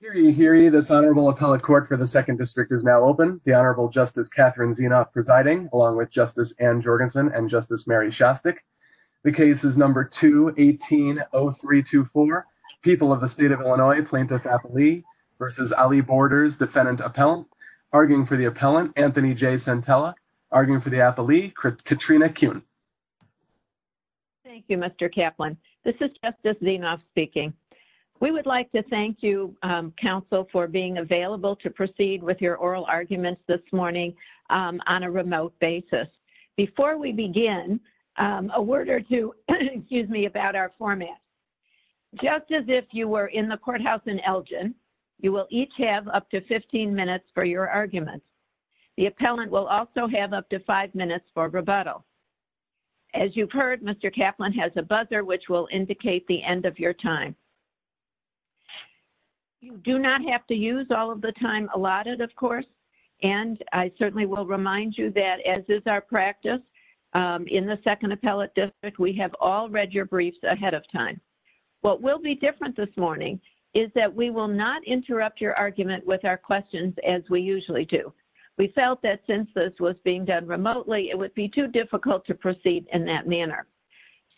Hear ye, hear ye, this Honorable Appellate Court for the 2nd District is now open. The Honorable Justice Catherine Zienoff presiding, along with Justice Ann Jorgensen and Justice Mary Shostak. The case is number 2180324, People of the State of Illinois, Plaintiff Appellee v. Ali Borders, Defendant Appellant. Arguing for the Appellant, Anthony J. Santella. Arguing for the Appellee, Katrina Kuhn. Thank you, Mr. Kaplan. This is Justice Zienoff speaking. We would like to thank you, Counsel, for being available to proceed with your oral arguments this morning on a remote basis. Before we begin, a word or two about our format. Just as if you were in the courthouse in Elgin, you will each have up to 15 minutes for your arguments. The Appellant will also have up to five minutes for rebuttal. As you've heard, Mr. Kaplan has a buzzer, which will indicate the end of your time. You do not have to use all of the time allotted, of course. And I certainly will remind you that, as is our practice in the 2nd Appellate District, we have all read your briefs ahead of time. What will be different this morning is that we will not interrupt your argument with our questions as we usually do. We felt that since this was being done remotely, it would be too difficult to proceed in that manner.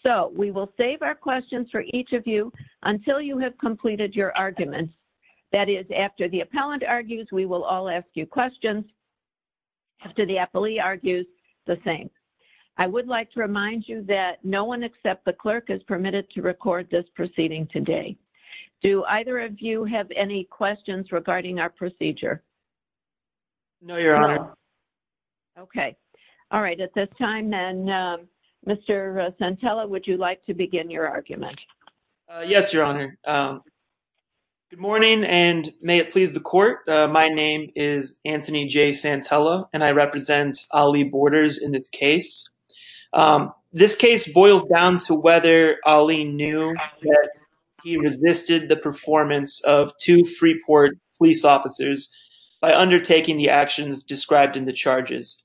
So we will save our questions for each of you until you have completed your arguments. That is, after the Appellant argues, we will all ask you questions. After the Appellee argues, the same. I would like to remind you that no one except the Clerk is permitted to record this proceeding today. Do either of you have any questions regarding our procedure? No, Your Honor. Okay. All right. At this time then, Mr. Santella, would you like to begin your argument? Yes, Your Honor. Good morning, and may it please the Court. My name is Anthony J. Santella, and I represent Ali Borders in this case. This case boils down to whether Ali knew that he resisted the performance of two Freeport police officers by undertaking the actions described in the charges.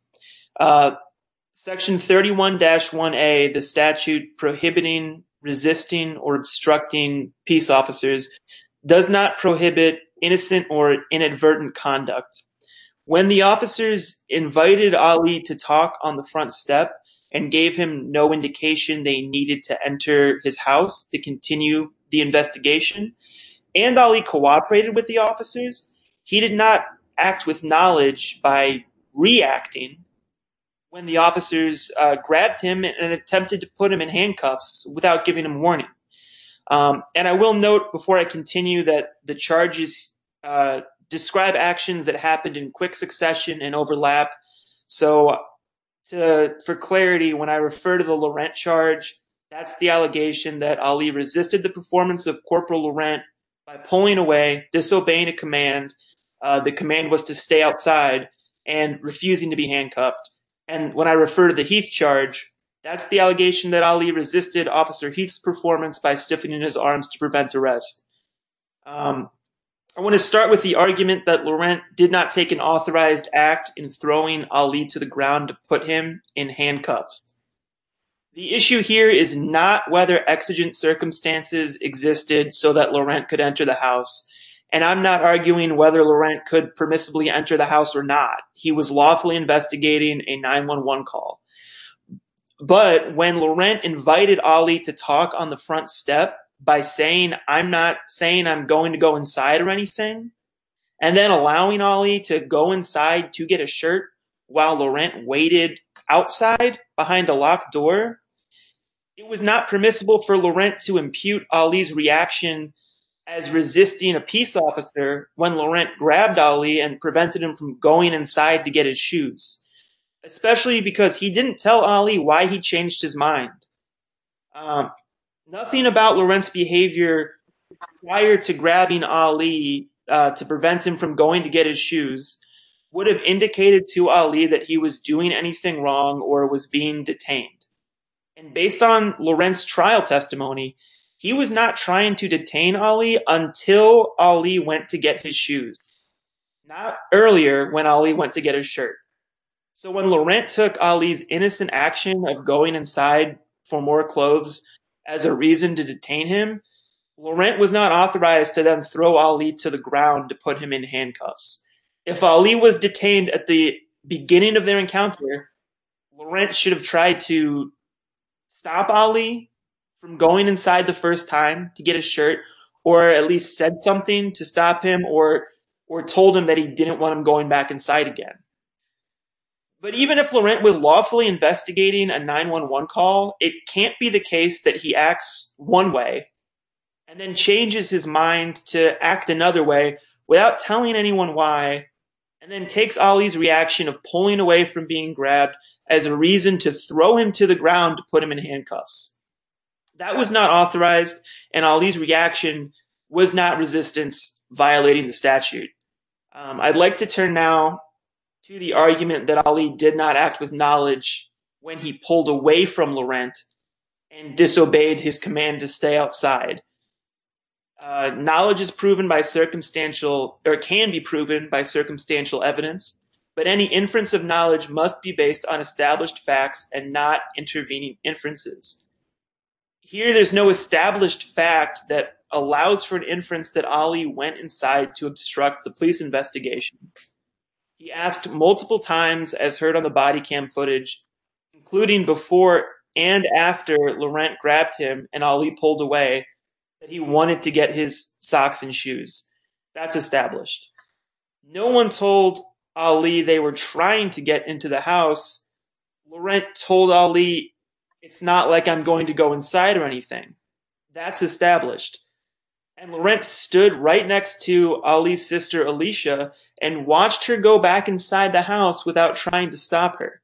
Section 31-1A, the statute prohibiting resisting or obstructing peace officers, does not prohibit innocent or inadvertent conduct. When the officers invited Ali to talk on the front step and gave him no indication they needed to enter his house to continue the investigation, and Ali cooperated with the officers, he did not act with knowledge by reacting when the officers grabbed him and attempted to put him in handcuffs without giving him warning. And I will note before I continue that the charges describe actions that happened in quick succession and overlap. So, for clarity, when I refer to the Laurent charge, that's the allegation that Ali resisted the performance of Corporal Laurent by pulling away, disobeying a command. The command was to stay outside and refusing to be handcuffed. And when I refer to the Heath charge, that's the allegation that Ali resisted Officer Heath's performance by stiffening his arms to prevent arrest. I want to start with the argument that Laurent did not take an authorized act in throwing Ali to the ground to put him in handcuffs. The issue here is not whether exigent circumstances existed so that Laurent could enter the house. And I'm not arguing whether Laurent could permissibly enter the house or not. He was lawfully investigating a 911 call. But when Laurent invited Ali to talk on the front step by saying, I'm not saying I'm going to go inside or anything, and then allowing Ali to go inside to get a shirt while Laurent waited outside behind a locked door. It was not permissible for Laurent to impute Ali's reaction as resisting a peace officer when Laurent grabbed Ali and prevented him from going inside to get his shoes. Especially because he didn't tell Ali why he changed his mind. Nothing about Laurent's behavior prior to grabbing Ali to prevent him from going to get his shoes would have indicated to Ali that he was doing anything wrong or was being detained. And based on Laurent's trial testimony, he was not trying to detain Ali until Ali went to get his shoes. Not earlier when Ali went to get his shirt. So when Laurent took Ali's innocent action of going inside for more clothes as a reason to detain him, Laurent was not authorized to then throw Ali to the ground to put him in handcuffs. If Ali was detained at the beginning of their encounter, Laurent should have tried to stop Ali from going inside the first time to get his shirt or at least said something to stop him or told him that he didn't want him going back inside again. But even if Laurent was lawfully investigating a 911 call, it can't be the case that he acts one way and then changes his mind to act another way without telling anyone why and then takes Ali's reaction of pulling away from being grabbed as a reason to throw him to the ground to put him in handcuffs. That was not authorized and Ali's reaction was not resistance violating the statute. I'd like to turn now to the argument that Ali did not act with knowledge when he pulled away from Laurent and disobeyed his command to stay outside. Knowledge is proven by circumstantial or can be proven by circumstantial evidence, but any inference of knowledge must be based on established facts and not intervening inferences. Here, there's no established fact that allows for an inference that Ali went inside to obstruct the police investigation. He asked multiple times as heard on the body cam footage, including before and after Laurent grabbed him and Ali pulled away that he wanted to get his socks and shoes. That's established. No one told Ali they were trying to get into the house. Laurent told Ali, it's not like I'm going to go inside or anything. That's established. And Laurent stood right next to Ali's sister, Alicia, and watched her go back inside the house without trying to stop her.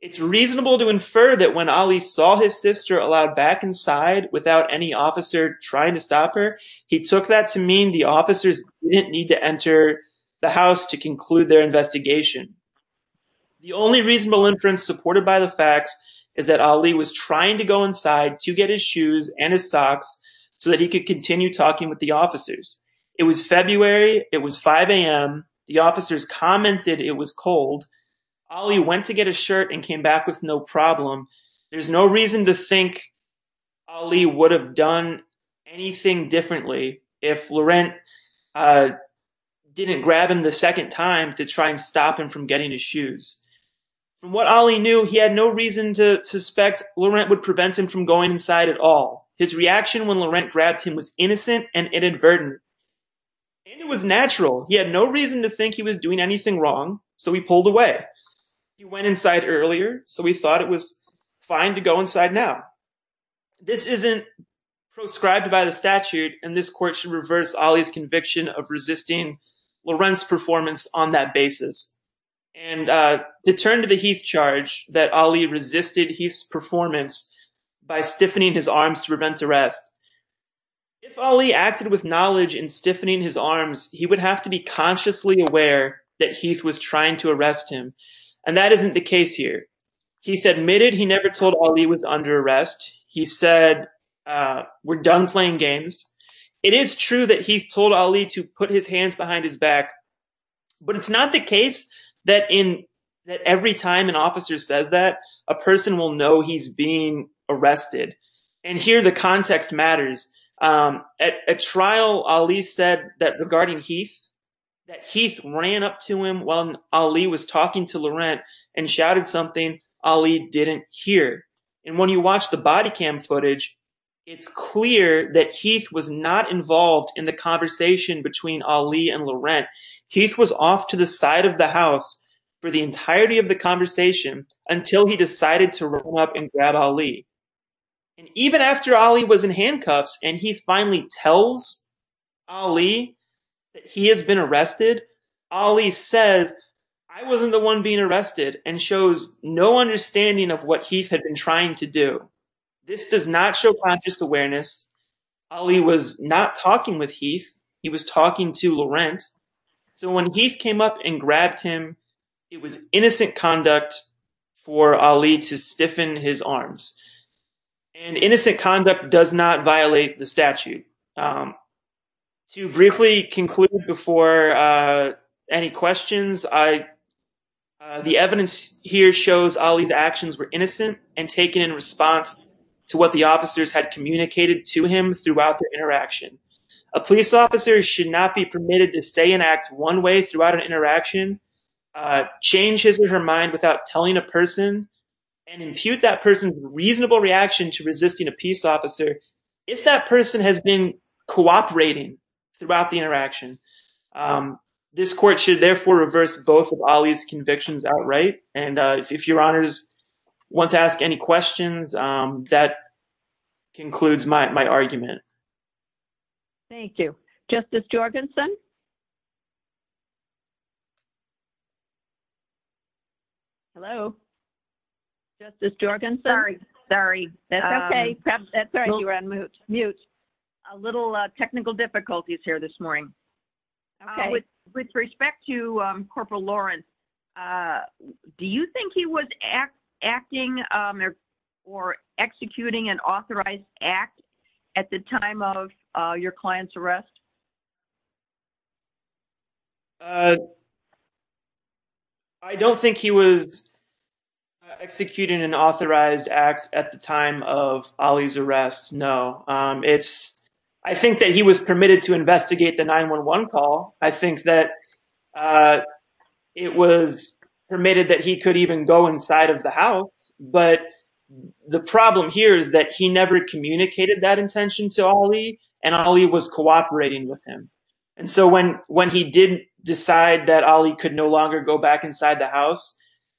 It's reasonable to infer that when Ali saw his sister allowed back inside without any officer trying to stop her, he took that to mean the officers didn't need to enter the house to conclude their investigation. The only reasonable inference supported by the facts is that Ali was trying to go inside to get his shoes and his socks so that he could continue talking with the officers. It was February. It was 5 a.m. The officers commented it was cold. Ali went to get a shirt and came back with no problem. There's no reason to think Ali would have done anything differently if Laurent didn't grab him the second time to try and stop him from getting his shoes. From what Ali knew, he had no reason to suspect Laurent would prevent him from going inside at all. His reaction when Laurent grabbed him was innocent and inadvertent. And it was natural. He had no reason to think he was doing anything wrong, so he pulled away. He went inside earlier, so he thought it was fine to go inside now. This isn't proscribed by the statute, and this court should reverse Ali's conviction of resisting Laurent's performance on that basis. And to turn to the Heath charge that Ali resisted Heath's performance by stiffening his arms to prevent arrest. If Ali acted with knowledge in stiffening his arms, he would have to be consciously aware that Heath was trying to arrest him. And that isn't the case here. Heath admitted he never told Ali he was under arrest. He said, we're done playing games. It is true that Heath told Ali to put his hands behind his back, but it's not the case that every time an officer says that, a person will know he's being arrested. And here the context matters. At trial, Ali said that regarding Heath, that Heath ran up to him while Ali was talking to Laurent and shouted something Ali didn't hear. And when you watch the body cam footage, it's clear that Heath was not involved in the conversation between Ali and Laurent. Heath was off to the side of the house for the entirety of the conversation until he decided to run up and grab Ali. And even after Ali was in handcuffs and Heath finally tells Ali that he has been arrested, Ali says, I wasn't the one being arrested and shows no understanding of what Heath had been trying to do. This does not show conscious awareness. Ali was not talking with Heath. He was talking to Laurent. So when Heath came up and grabbed him, it was innocent conduct for Ali to stiffen his arms. And innocent conduct does not violate the statute. To briefly conclude before any questions, the evidence here shows Ali's actions were innocent and taken in response to what the officers had communicated to him throughout the interaction. A police officer should not be permitted to stay and act one way throughout an interaction, change his or her mind without telling a person and impute that person's reasonable reaction to resisting a peace officer if that person has been cooperating throughout the interaction. This court should therefore reverse both of Ali's convictions outright. And if your honors want to ask any questions, that concludes my argument. Thank you. Justice Jorgensen. Justice Jorgensen. Sorry. Sorry. That's okay. You're on mute. Mute. A little technical difficulties here this morning. Okay. With respect to Corporal Laurence, do you think he was acting or executing an authorized act at the time of your client's arrest? I don't think he was executing an authorized act at the time of Ali's arrest. No. I think that he was permitted to investigate the 911 call. I think that it was permitted that he could even go inside of the house. But the problem here is that he never communicated that intention to Ali and Ali was cooperating with him. And so when he didn't decide that Ali could no longer go back inside the house,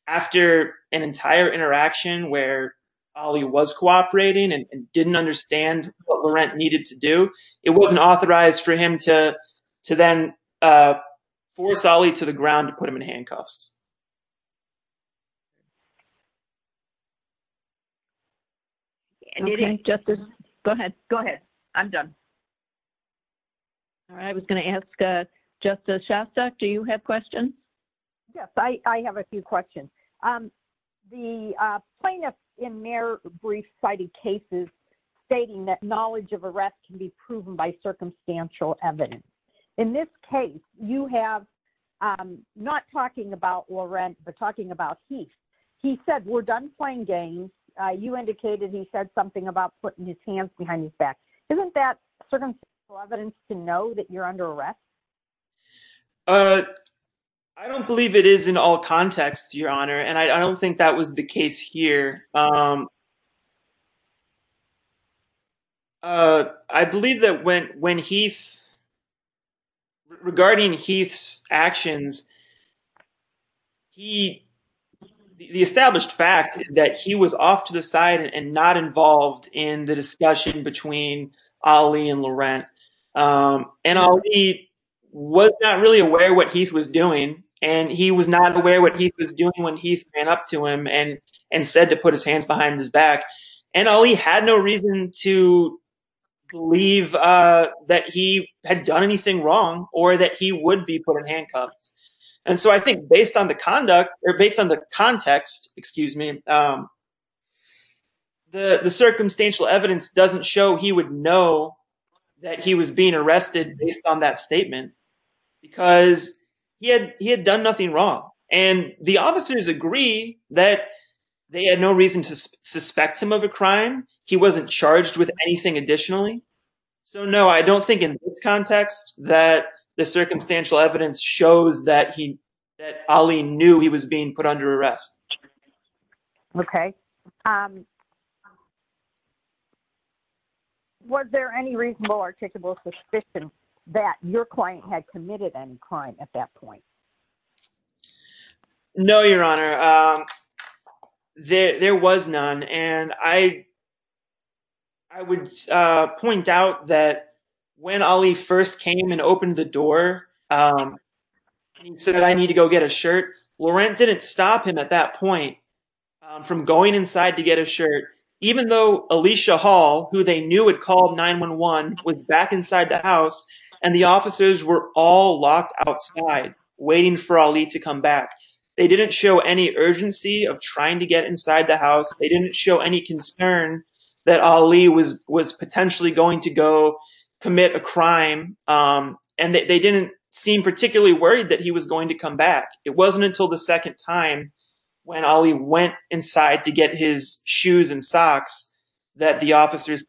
after an entire interaction where Ali was cooperating and didn't understand what Laurent needed to do, it wasn't authorized for him to then force Ali to the ground to put him in handcuffs. Go ahead. Go ahead. I'm done. All right. I was going to ask Justice Shostak, do you have questions? Yes. I have a few questions. The plaintiff in their brief cited cases stating that knowledge of arrests can be proven by circumstantial evidence. In this case, you have not talking about Laurent, but talking about Heath. He said, we're done playing games. You indicated he said something about putting his hands behind his back. Isn't that circumstantial evidence to know that you're under arrest? I don't believe it is in all context, Your Honor, and I don't think that was the case here. I believe that when Heath, regarding Heath's actions, the established fact is that he was off to the side and not involved in the discussion between Ali and Laurent. And Ali was not really aware what Heath was doing, and he was not aware what Heath was doing when Heath ran up to him and said to put his hands behind his back. And Ali had no reason to believe that he had done anything wrong or that he would be put in handcuffs. And so I think based on the conduct or based on the context, excuse me, the circumstantial evidence doesn't show he would know that he was being arrested based on that statement because he had done nothing wrong. And the officers agree that they had no reason to suspect him of a crime. He wasn't charged with anything additionally. So, no, I don't think in this context that the circumstantial evidence shows that he that Ali knew he was being put under arrest. Okay. Was there any reasonable articulable suspicion that your client had committed any crime at that point? No, Your Honor. There was none. And I would point out that when Ali first came and opened the door and said that I need to go get a shirt, Laurent didn't stop him at that point from going inside to get a shirt, even though Alicia Hall, who they knew had called 911, was back inside the house and the officers were all locked outside waiting for Ali to come back. They didn't show any urgency of trying to get inside the house. They didn't show any concern that Ali was potentially going to go commit a crime. And they didn't seem particularly worried that he was going to come back. It wasn't until the second time when Ali went inside to get his shoes and socks that the officers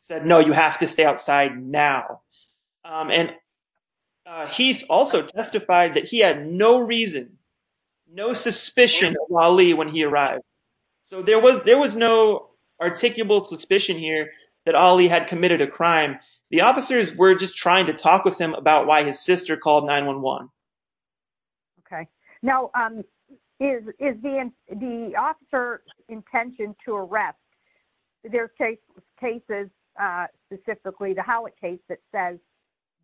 said, no, you have to stay outside now. And he also testified that he had no reason, no suspicion of Ali when he arrived. So there was there was no articulable suspicion here that Ali had committed a crime. The officers were just trying to talk with him about why his sister called 911. OK, now, is the officer intention to arrest their case cases specifically to how it tastes? It says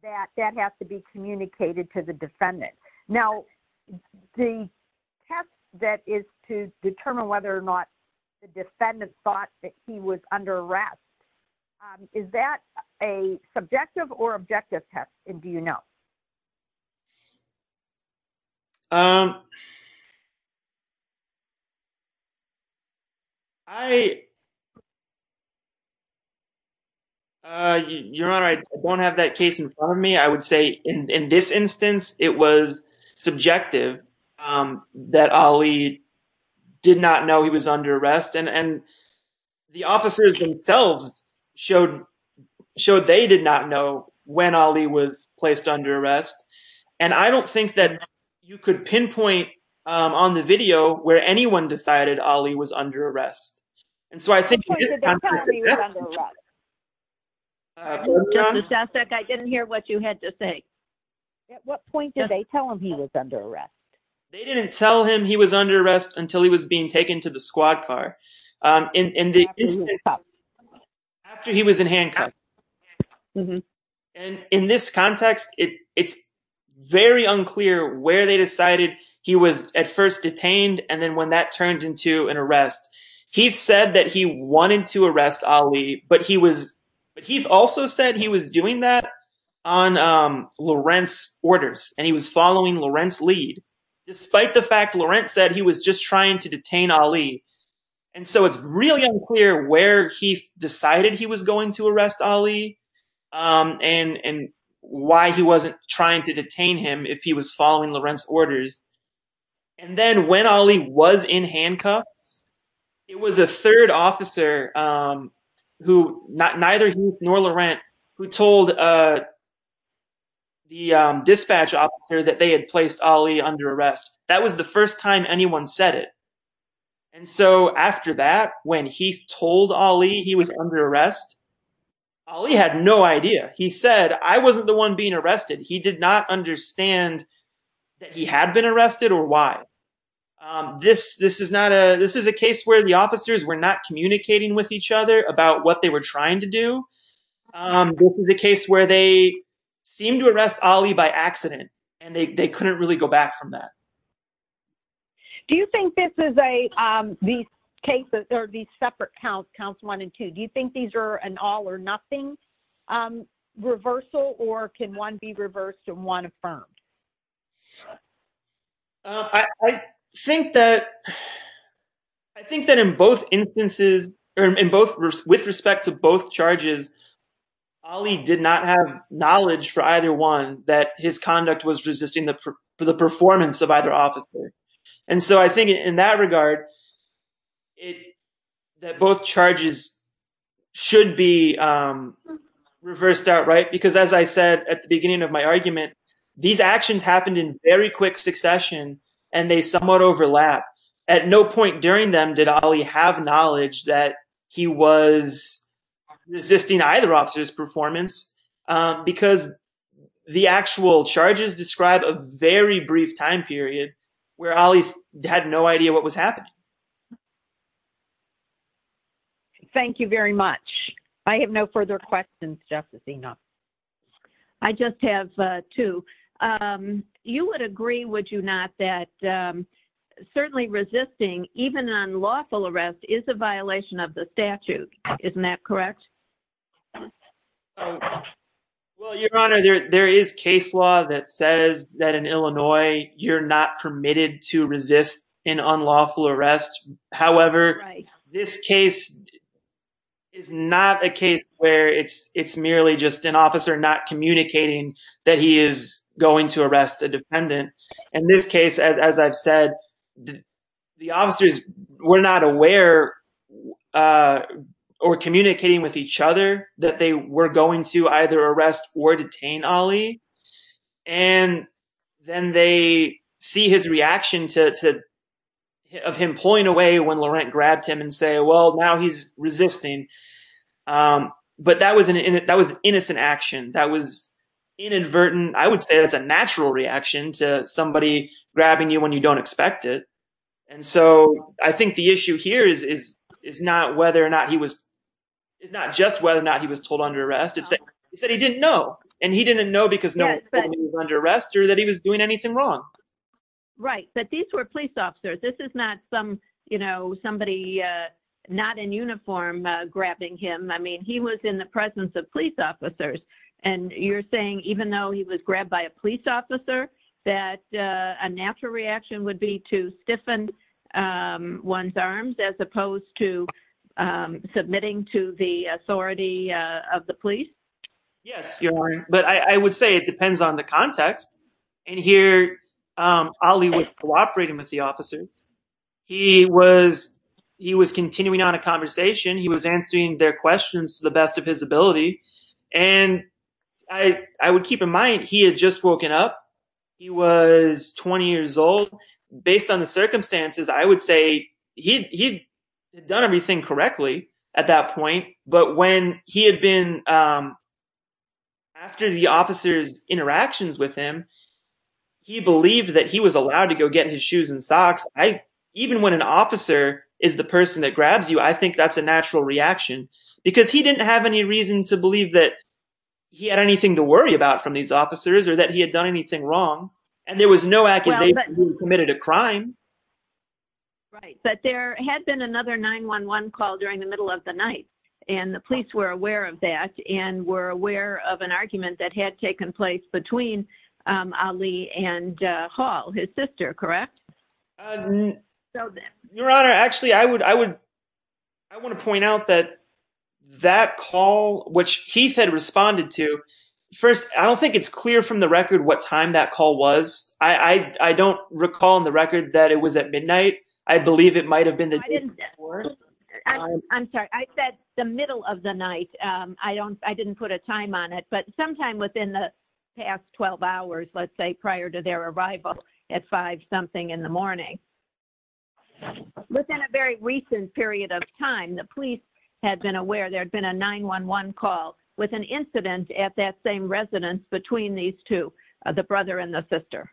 that that has to be communicated to the defendant. Now, the test that is to determine whether or not the defendant thought that he was under arrest. Is that a subjective or objective test? And do you know? Your Honor, I don't have that case in front of me, I would say in this instance, it was subjective that Ali did not know he was under arrest. And the officers themselves showed showed they did not know when Ali was placed under arrest. And I don't think that you could pinpoint on the video where anyone decided Ali was under arrest. And so I think. I didn't hear what you had to say. At what point did they tell him he was under arrest? They didn't tell him he was under arrest until he was being taken to the squad car in the after he was in handcuffs. And in this context, it's very unclear where they decided he was at first detained. And then when that turned into an arrest, he said that he wanted to arrest Ali. But he was but he also said he was doing that on Lawrence orders and he was following Lawrence lead, despite the fact Lawrence said he was just trying to detain Ali. And so it's really unclear where he decided he was going to arrest Ali and why he wasn't trying to detain him if he was following Lawrence orders. And then when Ali was in handcuffs, it was a third officer who not neither he nor Lawrence who told the dispatcher that they had placed Ali under arrest. That was the first time anyone said it. And so after that, when he told Ali he was under arrest, Ali had no idea. He said, I wasn't the one being arrested. He did not understand that he had been arrested or why this this is not a this is a case where the officers were not communicating with each other about what they were trying to do. This is a case where they seem to arrest Ali by accident and they couldn't really go back from that. Do you think this is a these cases are these separate counts, counts one and two. Do you think these are an all or nothing reversal or can one be reversed and one affirmed? I think that I think that in both instances, in both with respect to both charges, Ali did not have knowledge for either one that his conduct was resisting the performance of either officer. And so I think in that regard, it that both charges should be reversed outright, because, as I said at the beginning of my argument, these actions happened in very quick succession and they somewhat overlap. At no point during them did Ali have knowledge that he was resisting either officer's performance because the actual charges describe a very brief time period where Ali had no idea what was happening. Thank you very much. I have no further questions. I just have two. You would agree, would you not that certainly resisting even on lawful arrest is a violation of the statute. Isn't that correct? Well, Your Honor, there is case law that says that in Illinois, you're not permitted to resist an unlawful arrest. However, this case is not a case where it's merely just an officer not communicating that he is going to arrest a defendant. In this case, as I've said, the officers were not aware or communicating with each other that they were going to either arrest or detain Ali. And then they see his reaction of him pulling away when Laurent grabbed him and say, well, now he's resisting. But that was an innocent action. That was inadvertent. I would say that's a natural reaction to somebody grabbing you when you don't expect it. And so I think the issue here is not just whether or not he was told under arrest. He said he didn't know. And he didn't know because no one told him he was under arrest or that he was doing anything wrong. Right. But these were police officers. This is not some, you know, somebody not in uniform grabbing him. I mean, he was in the presence of police officers. And you're saying even though he was grabbed by a police officer, that a natural reaction would be to stiffen one's arms as opposed to submitting to the authority of the police? Yes. But I would say it depends on the context. And here, Ali was cooperating with the officers. He was continuing on a conversation. He was answering their questions to the best of his ability. And I would keep in mind, he had just woken up. He was 20 years old. And based on the circumstances, I would say he had done everything correctly at that point. But when he had been, after the officer's interactions with him, he believed that he was allowed to go get his shoes and socks. Even when an officer is the person that grabs you, I think that's a natural reaction because he didn't have any reason to believe that he had anything to worry about from these officers or that he had done anything wrong. And there was no accusation that he had committed a crime. Right. But there had been another 911 call during the middle of the night. And the police were aware of that and were aware of an argument that had taken place between Ali and Hall, his sister, correct? Your Honor, actually, I want to point out that that call, which Keith had responded to, first, I don't think it's clear from the record what time that call was. I don't recall on the record that it was at midnight. I believe it might have been the day before. I'm sorry. I said the middle of the night. I didn't put a time on it. But sometime within the past 12 hours, let's say, prior to their arrival at five something in the morning. Within a very recent period of time, the police had been aware there had been a 911 call with an incident at that same residence between these two, the brother and the sister.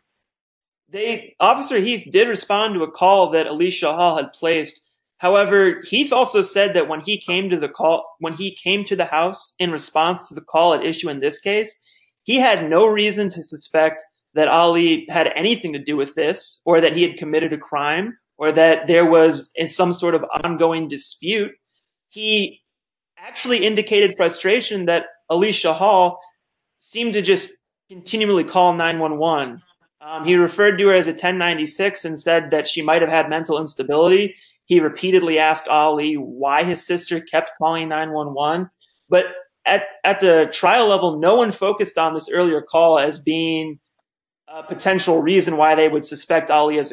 Officer Heath did respond to a call that Ali Shahal had placed. However, Heath also said that when he came to the house in response to the call at issue in this case, he had no reason to suspect that Ali had anything to do with this or that he had committed a crime or that there was some sort of ongoing dispute. He actually indicated frustration that Ali Shahal seemed to just continually call 911. He referred to her as a 1096 and said that she might have had mental instability. He repeatedly asked Ali why his sister kept calling 911. But at the trial level, no one focused on this earlier call as being a potential reason why they would suspect Ali of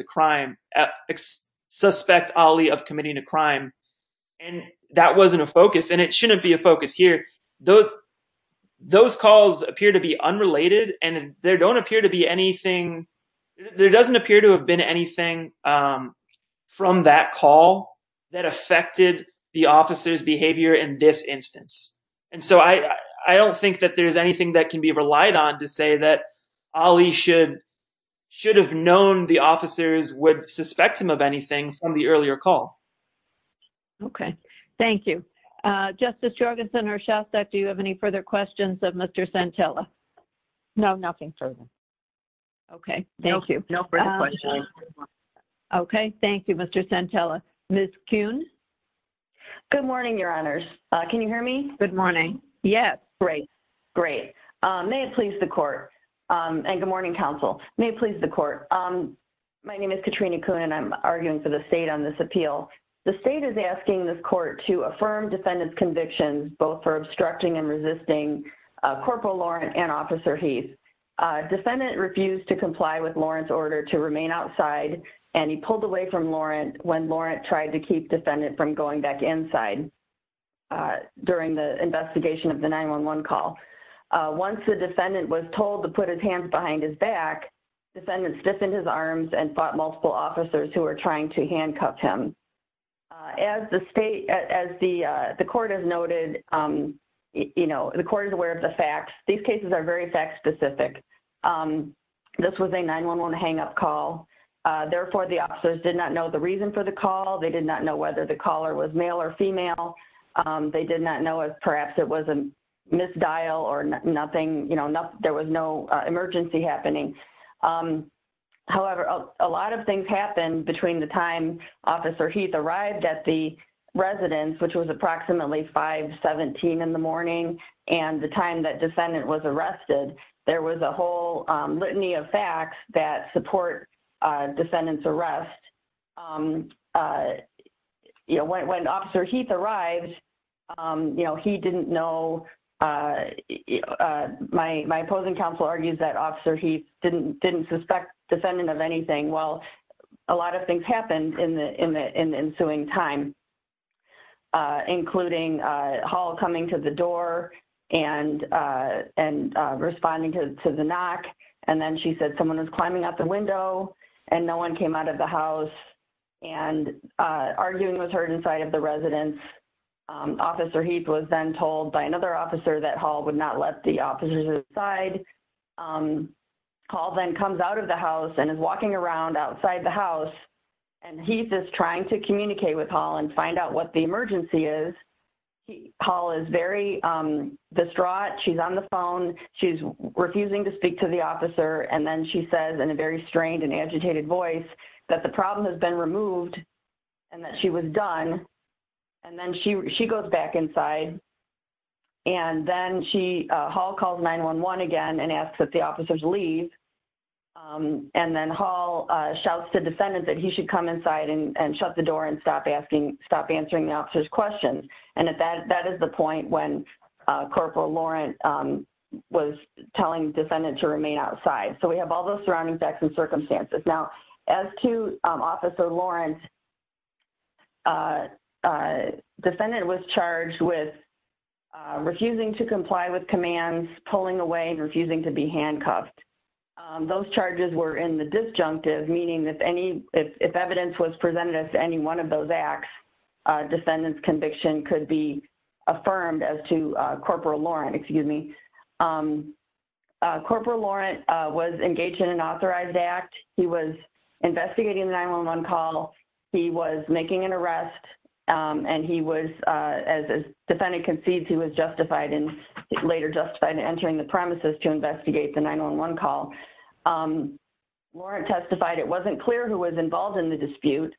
committing a crime. And that wasn't a focus and it shouldn't be a focus here. Those calls appear to be unrelated and there don't appear to be anything. There doesn't appear to have been anything from that call that affected the officer's behavior in this instance. And so I don't think that there's anything that can be relied on to say that Ali should have known the officers would suspect him of anything from the earlier call. Okay. Thank you. Justice Jorgensen or Shastak, do you have any further questions of Mr. Santella? No, nothing further. Okay. Thank you. No further questions. Okay. Thank you, Mr. Santella. Ms. Coon? Good morning, Your Honors. Can you hear me? Good morning. Yes. Great. May it please the court and good morning, counsel. May it please the court. My name is Katrina Coon and I'm arguing for the state on this appeal. The state is asking this court to affirm defendant's convictions, both for obstructing and resisting Corporal Laurent and Officer Heath. Defendant refused to comply with Laurent's order to remain outside and he pulled away from Laurent when Laurent tried to keep defendant from going back inside during the investigation of the 911 call. Once the defendant was told to put his hands behind his back, defendant stiffened his arms and fought multiple officers who were trying to handcuff him. As the state, as the court has noted, you know, the court is aware of the facts. These cases are very fact-specific. This was a 911 hang-up call. Therefore, the officers did not know the reason for the call. They did not know whether the caller was male or female. They did not know if perhaps it was a misdial or nothing, you know, there was no emergency happening. However, a lot of things happened between the time Officer Heath arrived at the residence, which was approximately 5.17 in the morning, and the time that defendant was arrested. There was a whole litany of facts that support defendant's arrest. You know, when Officer Heath arrived, you know, he didn't know, my opposing counsel argues that Officer Heath didn't suspect defendant of anything. Well, a lot of things happened in the ensuing time, including Hall coming to the door and responding to the knock. And then she said someone was climbing out the window and no one came out of the house and arguing was heard inside of the residence. Officer Heath was then told by another officer that Hall would not let the officers inside. Hall then comes out of the house and is walking around outside the house. And Heath is trying to communicate with Hall and find out what the emergency is. Hall is very distraught. She's on the phone. She's refusing to speak to the officer. And then she says in a very strained and agitated voice that the problem has been removed and that she was done. And then she goes back inside. And then Hall calls 911 again and asks that the officers leave. And then Hall shouts to defendant that he should come inside and shut the door and stop answering the officer's questions. And that is the point when Corporal Laurent was telling defendant to remain outside. So we have all those surrounding facts and circumstances. Now, as to Officer Laurent, defendant was charged with refusing to comply with commands, pulling away, and refusing to be handcuffed. Those charges were in the disjunctive, meaning if evidence was presented as to any one of those acts, defendant's conviction could be affirmed as to Corporal Laurent. Corporal Laurent was engaged in an authorized act. He was investigating the 911 call. He was making an arrest. And he was, as defendant concedes, he was later justified in entering the premises to investigate the 911 call. Laurent testified it wasn't clear who was involved in the dispute.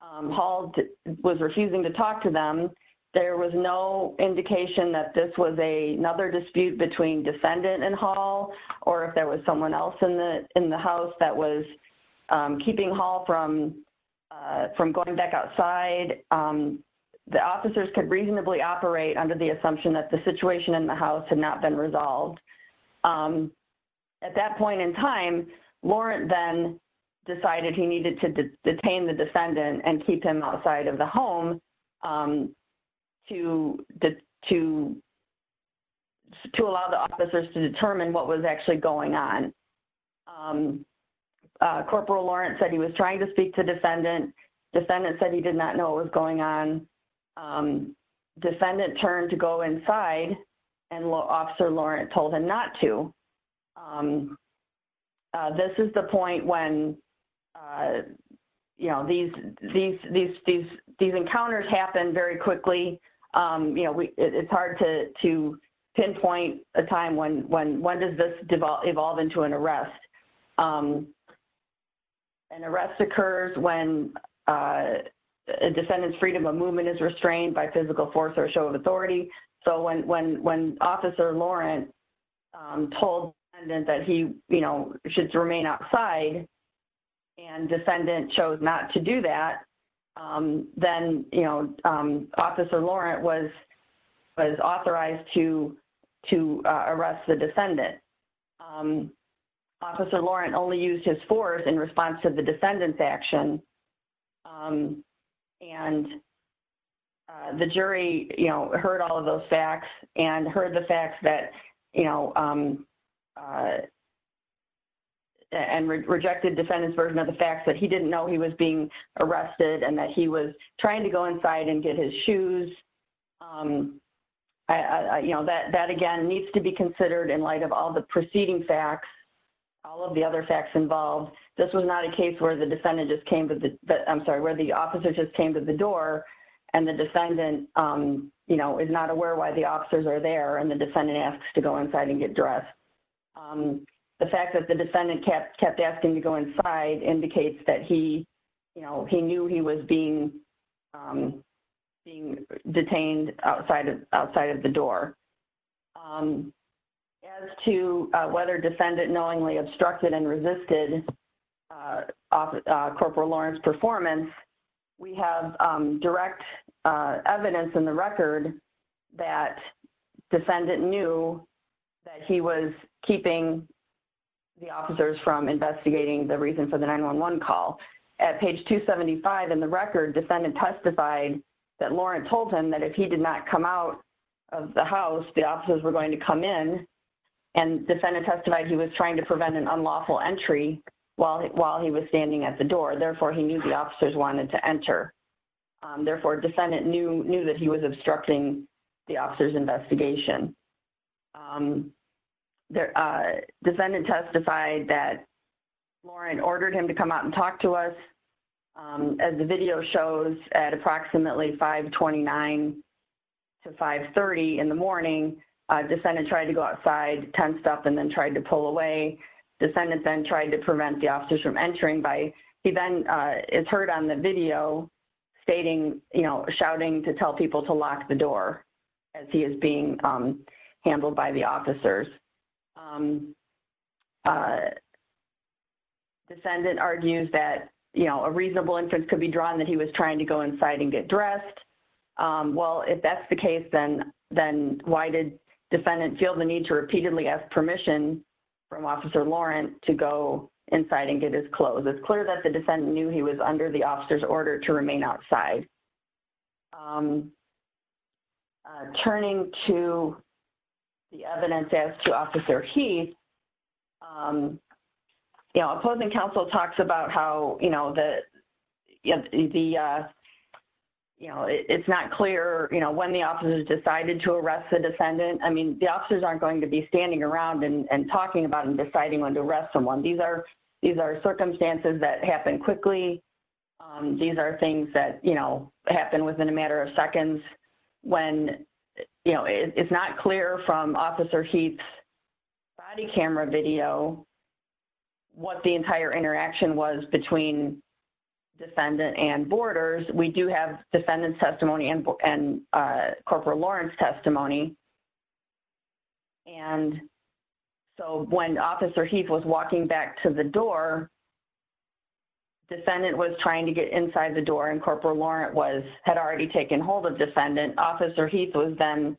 Hall was refusing to talk to them. There was no indication that this was another dispute between defendant and Hall or if there was someone else in the house that was keeping Hall from going back outside. The officers could reasonably operate under the assumption that the situation in the house had not been resolved. At that point in time, Laurent then decided he needed to detain the defendant and keep him outside of the home. To allow the officers to determine what was actually going on. Corporal Laurent said he was trying to speak to defendant. Defendant said he did not know what was going on. Defendant turned to go inside and Officer Laurent told him not to. This is the point when these encounters happen very quickly. It's hard to pinpoint a time when does this evolve into an arrest. An arrest occurs when a defendant's freedom of movement is restrained by physical force or show of authority. When Officer Laurent told defendant that he should remain outside and defendant chose not to do that, then Officer Laurent was authorized to arrest the defendant. Officer Laurent only used his force in response to the defendant's action. The jury heard all of those facts and rejected defendant's version of the facts that he didn't know he was being arrested and that he was trying to go inside and get his shoes. That again needs to be considered in light of all the preceding facts, all of the other facts involved. This was not a case where the officer just came to the door and the defendant is not aware why the officers are there and the defendant asks to go inside and get dressed. The fact that the defendant kept asking to go inside indicates that he knew he was being detained outside of the door. As to whether defendant knowingly obstructed and resisted Corporal Laurent's performance, we have direct evidence in the record that defendant knew that he was keeping the officers from investigating the reason for the 911 call. At page 275 in the record, defendant testified that Laurent told him that if he did not come out of the house, the officers were going to come in and defendant testified he was trying to prevent an unlawful entry while he was standing at the door. Therefore, he knew the officers wanted to enter. Therefore, defendant knew that he was obstructing the officers' investigation. Defendant testified that Laurent ordered him to come out and talk to us. As the video shows, at approximately 529 to 530 in the morning, defendant tried to go outside, tensed up, and then tried to pull away. Defendant then tried to prevent the officers from entering. He then is heard on the video shouting to tell people to lock the door as he is being handled by the officers. Defendant argues that a reasonable inference could be drawn that he was trying to go inside and get dressed. Well, if that's the case, then why did defendant feel the need to repeatedly ask permission from Officer Laurent to go inside and get his clothes? It's clear that the defendant knew he was under the officers' order to remain outside. Turning to the evidence as to Officer Heath, Opposing Counsel talks about how it's not clear when the officers decided to arrest the defendant. I mean, the officers aren't going to be standing around and talking about and deciding when to arrest someone. These are circumstances that happen quickly. These are things that happen within a matter of seconds. It's not clear from Officer Heath's body camera video what the entire interaction was between defendant and boarders. We do have defendant's testimony and Corporal Laurent's testimony. When Officer Heath was walking back to the door, defendant was trying to get inside the door and Corporal Laurent had already taken hold of defendant. Officer Heath was then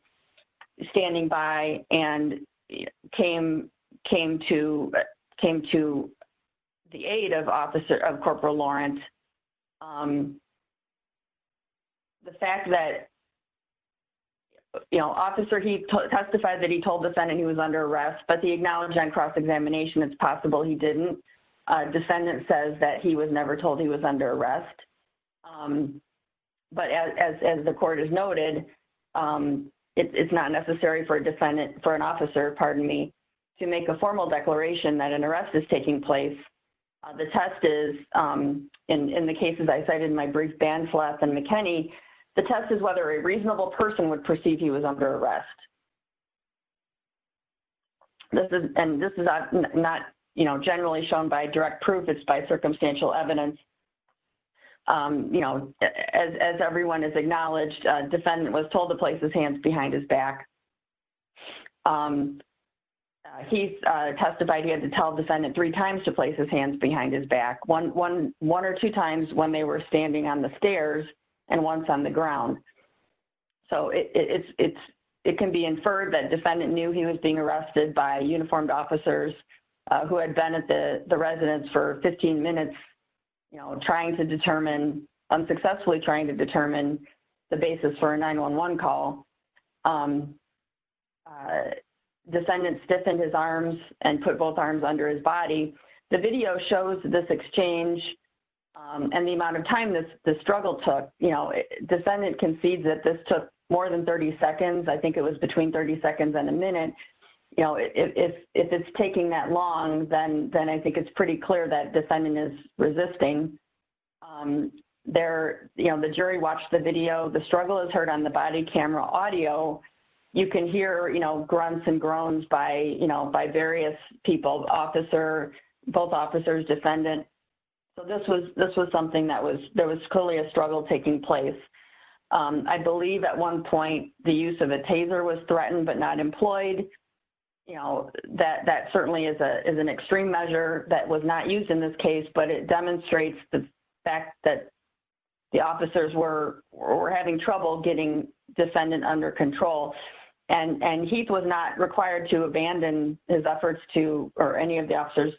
standing by and came to the aid of Corporal Laurent. The fact that Officer Heath testified that he told defendant he was under arrest, but he acknowledged on cross-examination it's possible he didn't. Defendant says that he was never told he was under arrest. But as the court has noted, it's not necessary for an officer to make a formal declaration that an arrest is taking place. The test is, in the cases I cited in my brief, Bansleth and McKinney, the test is whether a reasonable person would perceive he was under arrest. This is not generally shown by direct proof. It's by circumstantial evidence. As everyone has acknowledged, defendant was told to place his hands behind his back. Heath testified he had to tell defendant three times to place his hands behind his back. One or two times when they were standing on the stairs and once on the ground. It can be inferred that defendant knew he was being arrested by uniformed officers who had been at the residence for 15 minutes, unsuccessfully trying to determine the basis for a 911 call. Defendant stiffened his arms and put both arms under his body. The video shows this exchange and the amount of time the struggle took. Descendant concedes that this took more than 30 seconds. I think it was between 30 seconds and a minute. If it's taking that long, then I think it's pretty clear that defendant is resisting. The jury watched the video. The struggle is heard on the body camera audio. You can hear grunts and groans by various people, both officers, defendant. This was something that was clearly a struggle taking place. I believe at one point the use of a taser was threatened but not employed. That certainly is an extreme measure that was not used in this case, but it demonstrates the fact that the officers were having trouble getting defendant under control. Heath was not required to abandon his efforts to, or any of the officers,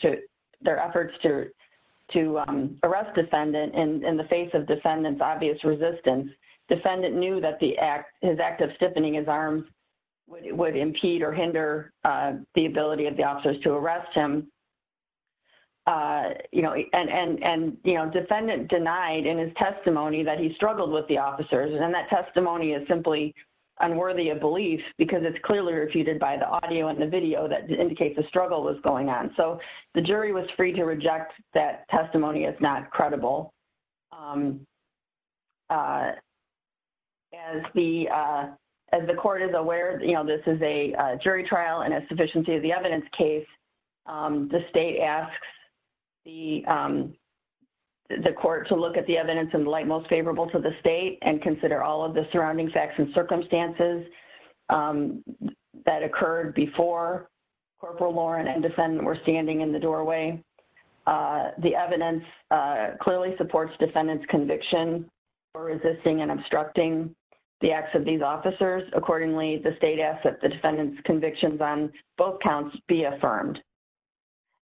their efforts to arrest defendant in the face of defendant's obvious resistance. Defendant knew that his act of stiffening his arms would impede or hinder the ability of the officers to arrest him. Defendant denied in his testimony that he struggled with the officers. That testimony is simply unworthy of belief because it's clearly refuted by the audio and the video that indicates the struggle was going on. The jury was free to reject that testimony as not credible. As the court is aware, this is a jury trial and a sufficiency of the evidence case, the state asks the court to look at the evidence in the light most favorable to the state and consider all of the surrounding facts and circumstances that occurred before Corporal Loren and defendant were standing in the doorway. The evidence clearly supports defendant's conviction for resisting and obstructing the acts of these officers. Accordingly, the state asks that the defendant's convictions on both counts be affirmed.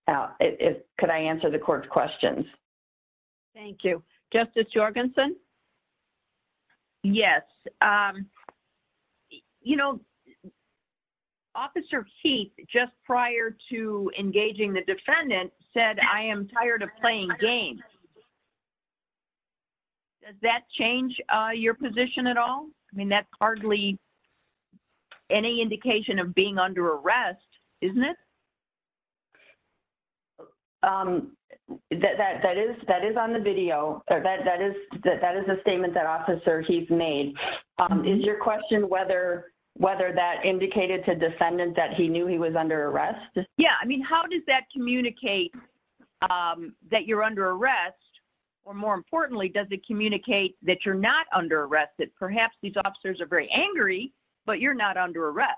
Could I answer the court's questions? Thank you. Justice Jorgensen? Yes. You know, Officer Heath just prior to engaging the defendant said, I am tired of playing games. Does that change your position at all? I mean, that's hardly any indication of being under arrest, isn't it? That is on the video. That is a statement that Officer Heath made. Is your question whether that indicated to defendant that he knew he was under arrest? Yeah. I mean, how does that communicate that you're under arrest? Or more importantly, does it communicate that you're not under arrest? That perhaps these officers are very angry, but you're not under arrest.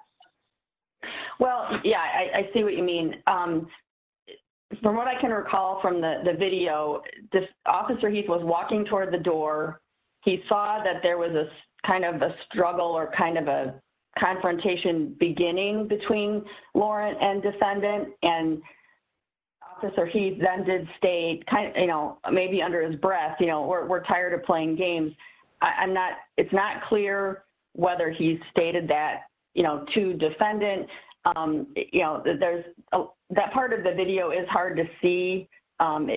Well, yeah. I see what you mean. From what I can recall from the video, Officer Heath was walking toward the door. He saw that there was kind of a struggle or kind of a confrontation beginning between Loren and defendant. And Officer Heath then did state, you know, maybe under his breath, you know, we're tired of playing games. I'm not, it's not clear whether he's stated that, you know, to defendant. You know, there's, that part of the video is hard to see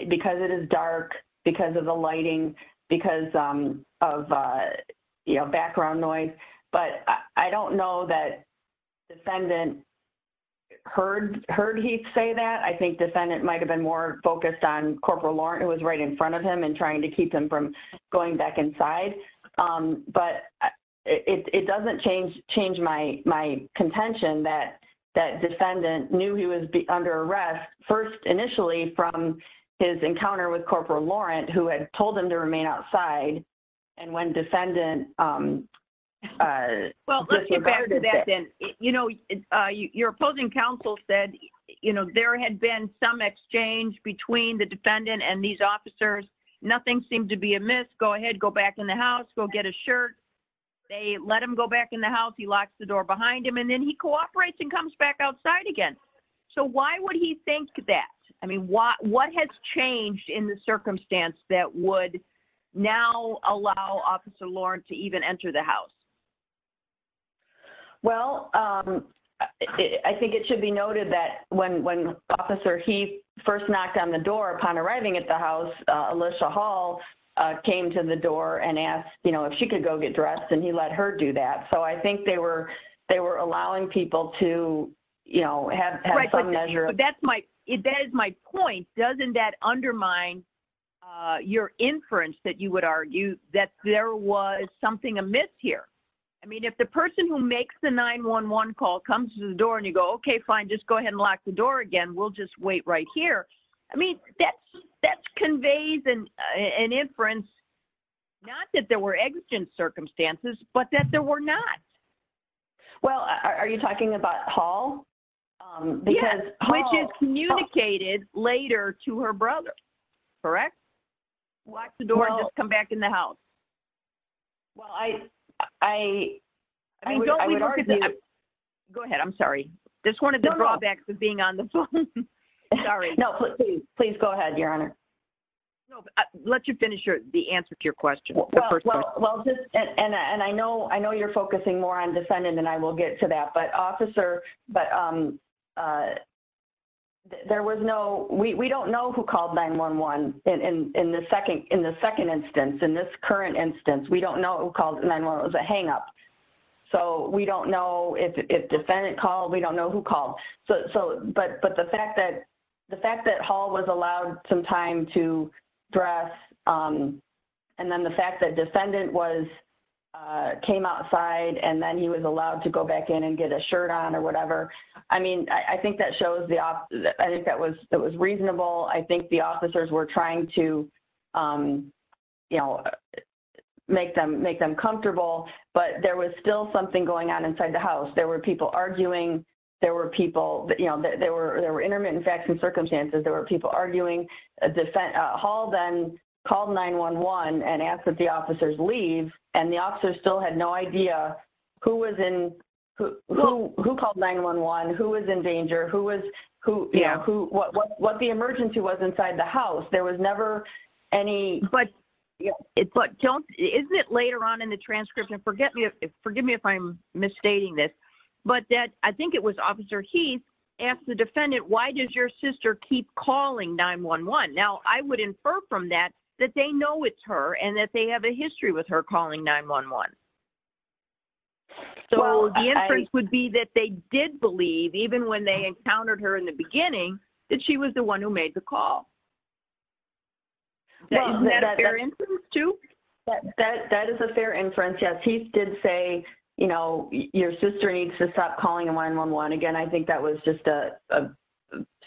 because it is dark, because of the lighting, because of, you know, background noise. But I don't know that defendant heard Heath say that. I think defendant might have been more focused on Corporal Loren who was right in front of him and trying to keep him from going back inside. But it doesn't change my contention that defendant knew he was under arrest first initially from his encounter with Corporal Loren who had told him to remain outside. And when defendant. Well, let's get back to that then. You know, your opposing counsel said, you know, there had been some exchange between the defendant and these officers. Nothing seemed to be amiss. Go ahead. Go back in the house. Go get a shirt. They let him go back in the house. He locks the door behind him and then he cooperates and comes back outside again. So why would he think that? I mean, what has changed in the circumstance that would now allow Officer Loren to even enter the house? Well, I think it should be noted that when Officer Heath first knocked on the door upon arriving at the house, Alyssa Hall came to the door and asked, you know, if she could go get dressed and he let her do that. So I think they were allowing people to, you know, have some measure. That is my point. Doesn't that undermine your inference that you would argue that there was something amiss here? I mean, if the person who makes the 911 call comes to the door and you go, okay, fine, just go ahead and lock the door again. We'll just wait right here. I mean, that conveys an inference, not that there were exigent circumstances, but that there were not. Well, are you talking about Hall? Yes, which is communicated later to her brother. Correct? Lock the door and just come back in the house. Well, I mean, go ahead. I'm sorry. There's one of the drawbacks of being on the phone. Sorry. No, please. Please go ahead, Your Honor. Let you finish the answer to your question. Well, and I know you're focusing more on defendant than I will get to that. But we don't know who called 911 in the second instance. In this current instance, we don't know who called 911. It was a hang up. So we don't know if defendant called. We don't know who called. But the fact that Hall was allowed some time to dress and then the fact that defendant came outside and then he was allowed to go back in and get a shirt on or whatever. I mean, I think that was reasonable. I think the officers were trying to make them comfortable, but there was still something going on inside the house. There were people arguing. There were intermittent facts and circumstances. There were people arguing. Hall then called 911 and asked that the officers leave. And the officers still had no idea who called 911, who was in danger, what the emergency was inside the house. There was never any... But isn't it later on in the transcript, and forgive me if I'm misstating this, but that I think it was Officer Heath asked the defendant, why does your sister keep calling 911? Now, I would infer from that that they know it's her and that they have a history with her calling 911. So the inference would be that they did believe, even when they encountered her in the beginning, that she was the one who made the call. Isn't that a fair inference too? That is a fair inference, yes. Heath did say, your sister needs to stop calling 911. Again, I think that was just a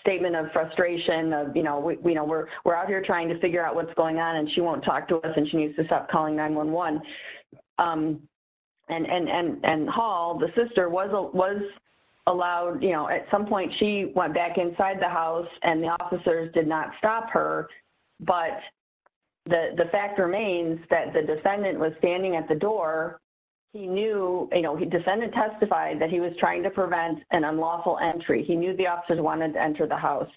statement of frustration. We're out here trying to figure out what's going on and she won't talk to us and she needs to stop calling 911. And Hall, the sister, was allowed... At some point, she went back inside the house and the officers did not stop her. But the fact remains that the defendant was standing at the door. The defendant testified that he was trying to prevent an unlawful entry. He knew the officers wanted to enter the house.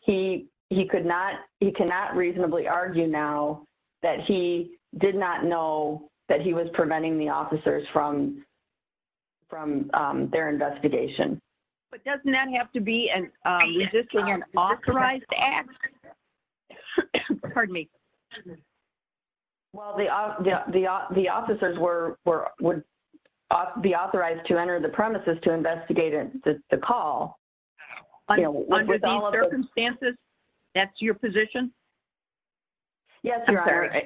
He cannot reasonably argue now that he did not know that he was preventing the officers from their investigation. But doesn't that have to be an authorized act? Well, the officers would be authorized to enter the premises to investigate the call. Under these circumstances, that's your position? Yes, Your Honor.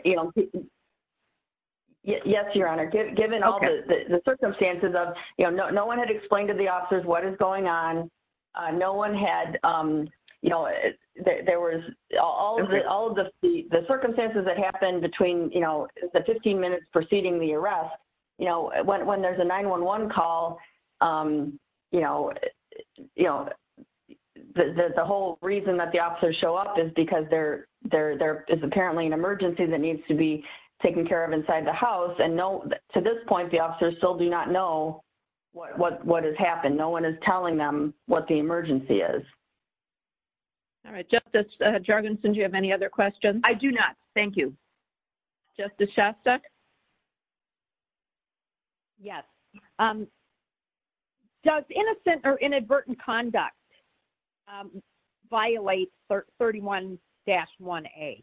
Yes, Your Honor. Given all the circumstances, no one had explained to the officers what is going on. All of the circumstances that happened between the 15 minutes preceding the arrest... When there's a 911 call, the whole reason that the officers show up is because there is apparently an emergency that needs to be taken care of inside the house. And to this point, the officers still do not know what has happened. No one is telling them what the emergency is. All right. Justice Jargonson, do you have any other questions? I do not. Thank you. Justice Shasta? Yes. Does innocent or inadvertent conduct violate 31-1A?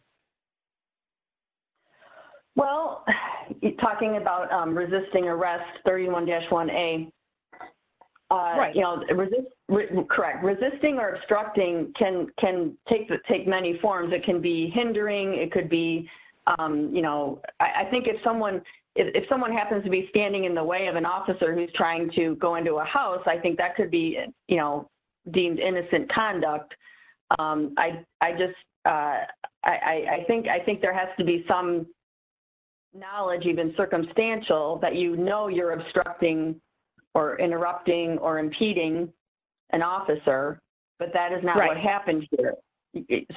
Well, talking about resisting arrest, 31-1A... Right. Correct. Resisting or obstructing can take many forms. It can be hindering, it could be... I think if someone happens to be standing in the way of an officer who's trying to go into a house, I think that could be deemed innocent conduct. I just... I think there has to be some knowledge, even circumstantial, that you know you're obstructing or interrupting or impeding an officer, but that is not what happened here.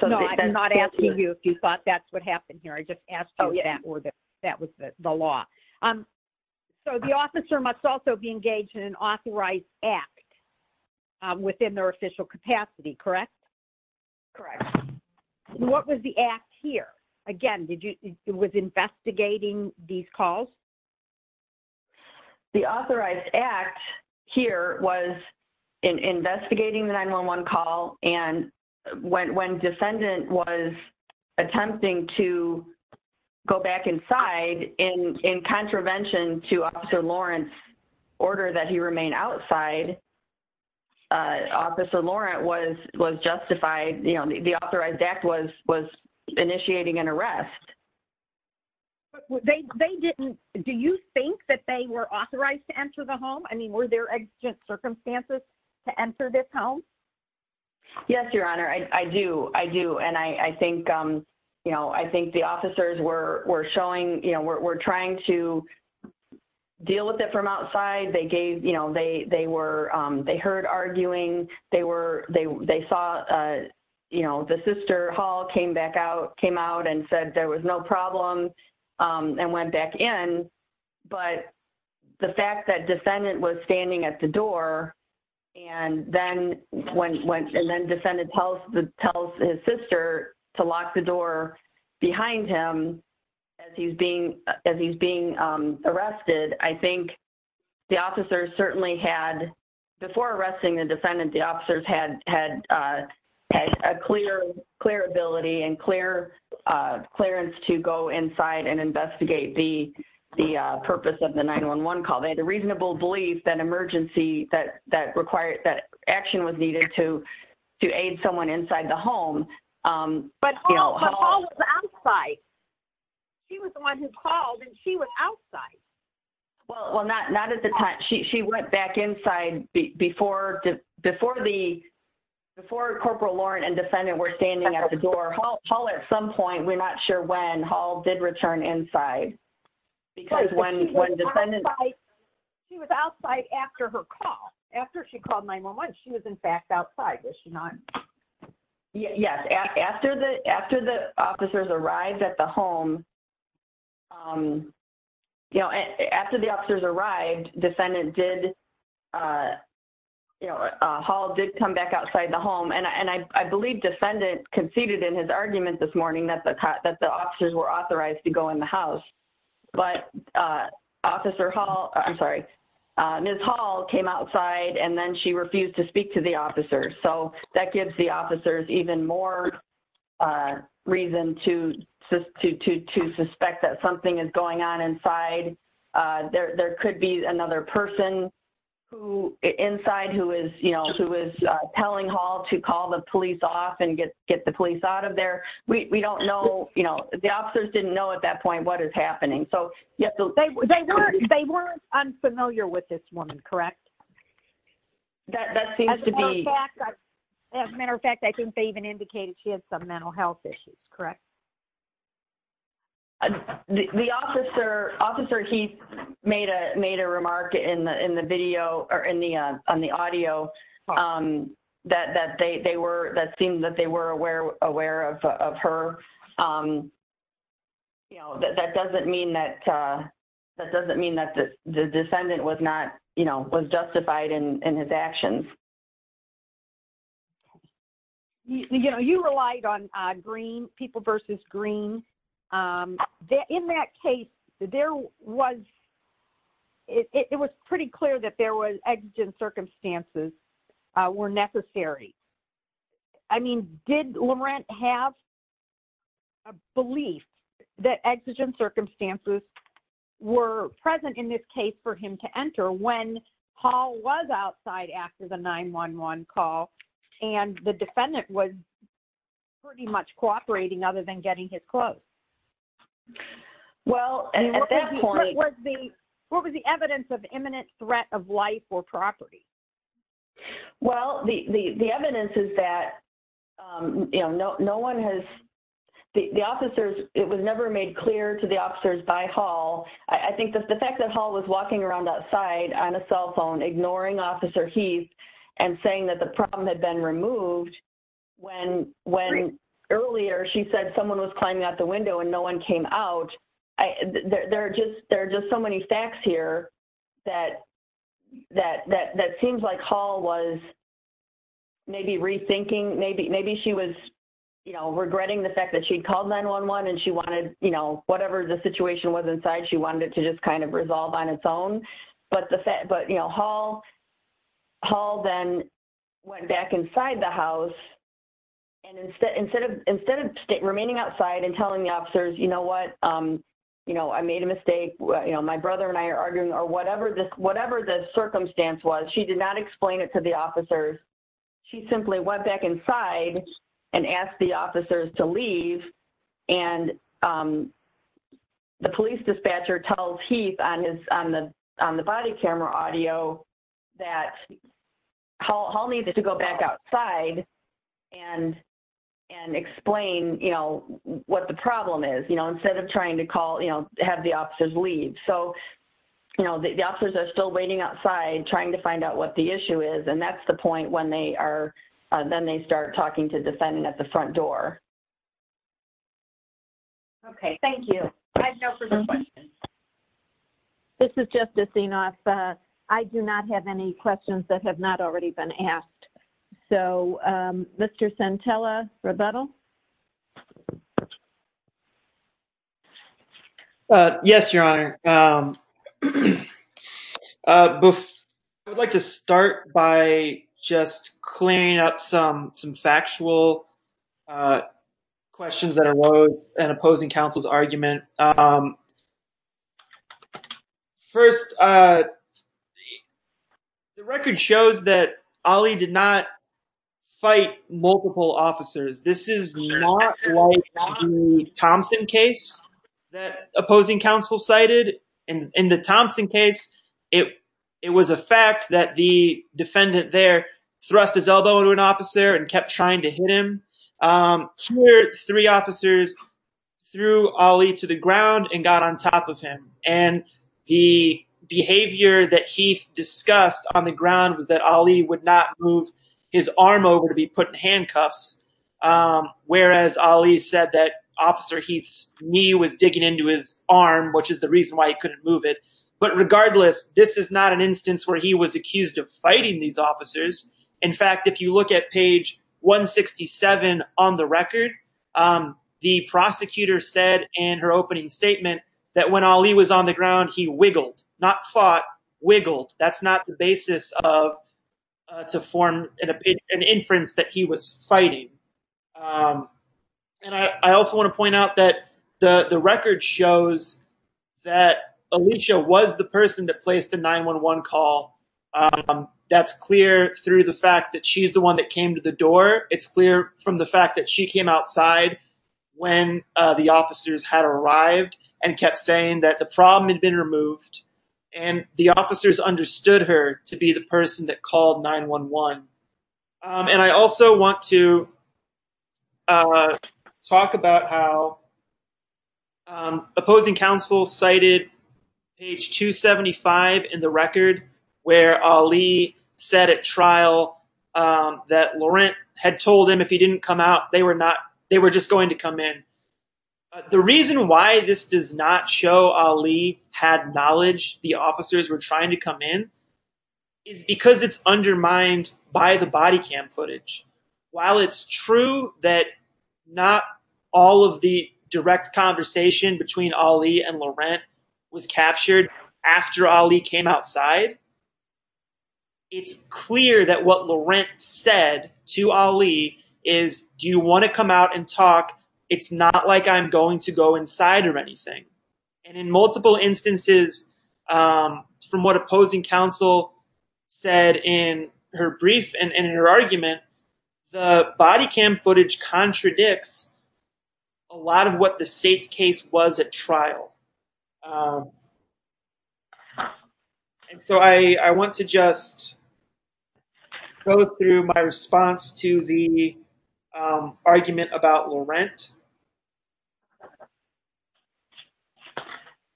No, I'm not asking you if you thought that's what happened here. I just asked you if that was the law. So the officer must also be engaged in an authorized act within their official capacity, correct? Correct. What was the act here? Again, it was investigating these calls? The authorized act here was investigating the 911 call, and when defendant was attempting to go back inside in contravention to Officer Lawrence's order that he remain outside, Officer Lawrence was justified, you know, the authorized act was initiating an arrest. They didn't... Do you think that they were authorized to enter the home? I mean, were there exigent circumstances to enter this home? Yes, Your Honor. I do. I do. And I think, you know, I think the officers were showing, you know, were trying to deal with it from outside. They gave, you know, they were, they heard arguing. They were, they saw, you know, the sister Hall came back out, came out and said there was no problem and went back in. But the fact that defendant was standing at the door, and then when, and then defendant tells his sister to lock the door behind him as he's being, as he's being arrested, I think the officers certainly had, before arresting the defendant, the officers had a clear ability and clear clearance to go inside and investigate the, the purpose of the 911 call. They had a reasonable belief that emergency that, that required, that action was needed to aid someone inside the home. But Hall was outside. She was the one who called and she was outside. Well, not at the time. She went back inside before, before the, before Corporal Lauren and defendant were standing at the door. Hall at some point, we're not sure when, Hall did return inside. Because when, when defendant... She was outside after her call. After she called 911, she was in fact outside, was she not? Yes, after the, after the officers arrived at the home, you know, after the officers arrived, defendant did, you know, Hall did come back outside the home. And I believe defendant conceded in his argument this morning that the, that the officers were authorized to go in the house. But Officer Hall, I'm sorry, Ms. Hall came outside and then she refused to speak to the officers. So that gives the officers even more reason to, to, to, to suspect that something is going on inside. There, there could be another person who, inside who is, you know, who is telling Hall to call the police off and get, get the police out of there. We don't know, you know, the officers didn't know at that point what is happening. So they weren't unfamiliar with this woman, correct? That seems to be... As a matter of fact, I think they even indicated she had some mental health issues, correct? The officer, Officer Heath made a, made a remark in the, in the video or in the, on the audio that, that they, they were, that seemed that they were aware, aware of, of her. You know, that, that doesn't mean that, that doesn't mean that the, the defendant was not, you know, was justified in, in his actions. You know, you relied on green, people versus green. In that case, there was, it was pretty clear that there was exigent circumstances were necessary. I mean, did Laurent have a belief that exigent circumstances were present in this case for him to enter when Hall was outside after the 911 call and the defendant was pretty much cooperating other than getting his clothes? Well, at that point... What was the, what was the evidence of imminent threat of life or property? Well, the, the, the evidence is that, you know, no, no one has, the, the officers, it was never made clear to the officers by Hall. I think that the fact that Hall was walking around outside on a cell phone, ignoring Officer Heath and saying that the problem had been removed when, when earlier she said someone was climbing out the window and no one came out. There are just, there are just so many facts here that, that, that, that seems like Hall was maybe rethinking, maybe, maybe she was, you know, regretting the fact that she'd called 911 and she wanted, you know, whatever the situation was inside, she wanted it to just kind of resolve on its own. But the fact, but, you know, Hall, Hall then went back inside the house and instead, instead of, instead of remaining outside and telling the officers, you know what, you know, I made a mistake. You know, my brother and I are arguing or whatever this, whatever the circumstance was, she did not explain it to the officers. She simply went back inside and asked the officers to leave and the police dispatcher tells Heath on his, on the, on the body camera audio that Hall, Hall needed to go back outside and, and explain, you know, what the problem is, you know, instead of trying to call, you know, have the officers leave. So, you know, the officers are still waiting outside, trying to find out what the issue is. And that's the point when they are, then they start talking to defending at the front door. Okay, thank you. This is just a scene off. I do not have any questions that have not already been asked. So, Mr. Santella rebuttal. Yes, Your Honor. I would like to start by just clearing up some, some factual questions that arose and opposing counsel's argument. First, the record shows that Ali did not fight multiple officers. This is not like the Thompson case that opposing counsel cited. In the Thompson case, it, it was a fact that the defendant there thrust his elbow into an officer and kept trying to hit him. Here, three officers threw Ali to the ground and got on top of him. And the behavior that Heath discussed on the ground was that Ali would not move his arm over to be put in handcuffs. Whereas Ali said that officer Heath's knee was digging into his arm, which is the reason why he couldn't move it. But regardless, this is not an instance where he was accused of fighting these officers. In fact, if you look at page 167 on the record, the prosecutor said in her opening statement that when Ali was on the ground, he wiggled, not fought, wiggled. That's not the basis of, to form an opinion, an inference that he was fighting. And I also want to point out that the record shows that Alicia was the person that placed the 911 call. That's clear through the fact that she's the one that came to the door. It's clear from the fact that she came outside when the officers had arrived and kept saying that the problem had been removed and the officers understood her to be the person that called 911. I want to talk about how opposing counsel cited page 275 in the record where Ali said at trial that Laurent had told him if he didn't come out, they were just going to come in. The reason why this does not show Ali had knowledge the officers were trying to come in is because it's undermined by the body cam footage. While it's true that not all of the direct conversation between Ali and Laurent was captured after Ali came outside, it's clear that what Laurent said to Ali is, do you want to come out and talk? It's not like I'm going to go inside or anything. And in multiple instances, from what opposing counsel said in her brief and in her argument, the body cam footage contradicts a lot of what the state's case was at trial. So I want to just go through my response to the argument about Laurent.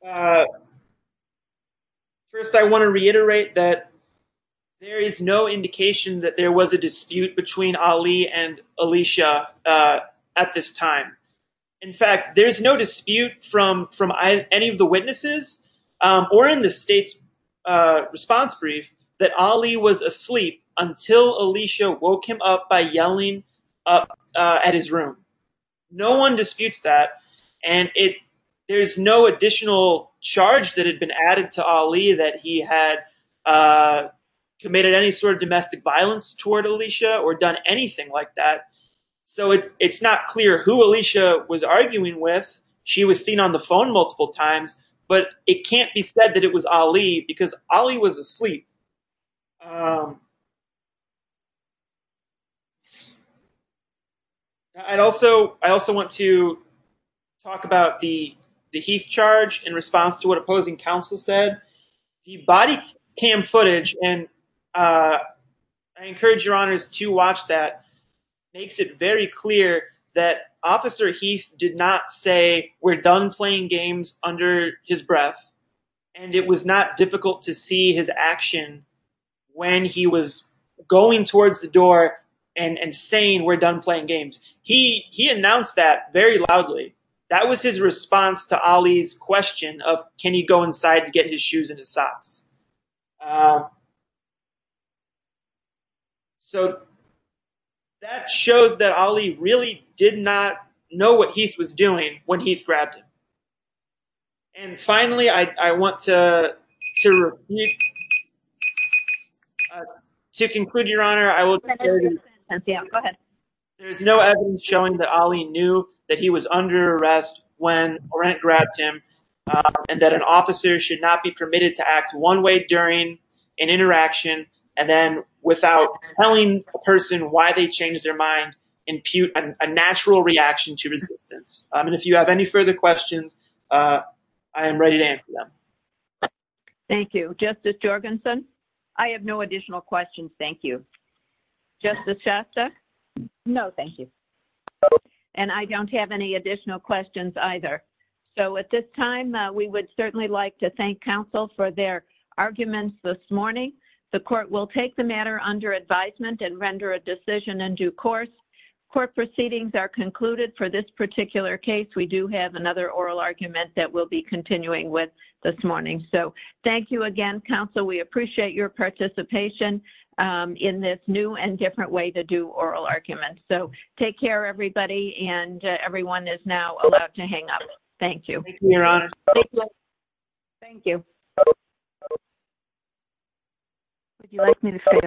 First, I want to reiterate that there is no indication that there was a dispute between Ali and Alicia at this time. In fact, there's no dispute from any of the witnesses or in the state's response brief that Ali was asleep until Alicia woke him up by yelling at his room. No one disputes that. And there's no additional charge that had been added to Ali that he had committed any sort of domestic violence toward Alicia or done anything like that. So it's not clear who Alicia was arguing with. She was seen on the phone multiple times, but it can't be said that it was Ali because Ali was asleep. I also want to talk about the Heath charge in response to what opposing counsel said. The body cam footage, and I encourage your honors to watch that, makes it very clear that Officer Heath did not say, we're done playing games under his breath. And it was not difficult to see his action when he was going towards the door and saying, we're done playing games. He announced that very loudly. That was his response to Ali's question of, can he go inside to get his shoes and his socks? So that shows that Ali really did not know what Heath was doing when Heath grabbed him. And finally, I want to conclude, your honor, there's no evidence showing that Ali knew that he was under arrest when Orant grabbed him and that an officer should not be permitted to act one way or the other. One way during an interaction, and then without telling a person why they changed their mind, impute a natural reaction to resistance. And if you have any further questions, I am ready to answer them. Thank you, Justice Jorgensen. I have no additional questions. Thank you. Justice Shasta? No, thank you. And I don't have any additional questions either. So at this time, we would certainly like to thank counsel for their arguments this morning. The court will take the matter under advisement and render a decision in due course. Court proceedings are concluded for this particular case. We do have another oral argument that we'll be continuing with this morning. So thank you again, counsel. We appreciate your participation in this new and different way to do oral arguments. Take care, everybody. And everyone is now allowed to hang up. Thank you. Thank you, your honor. Thank you.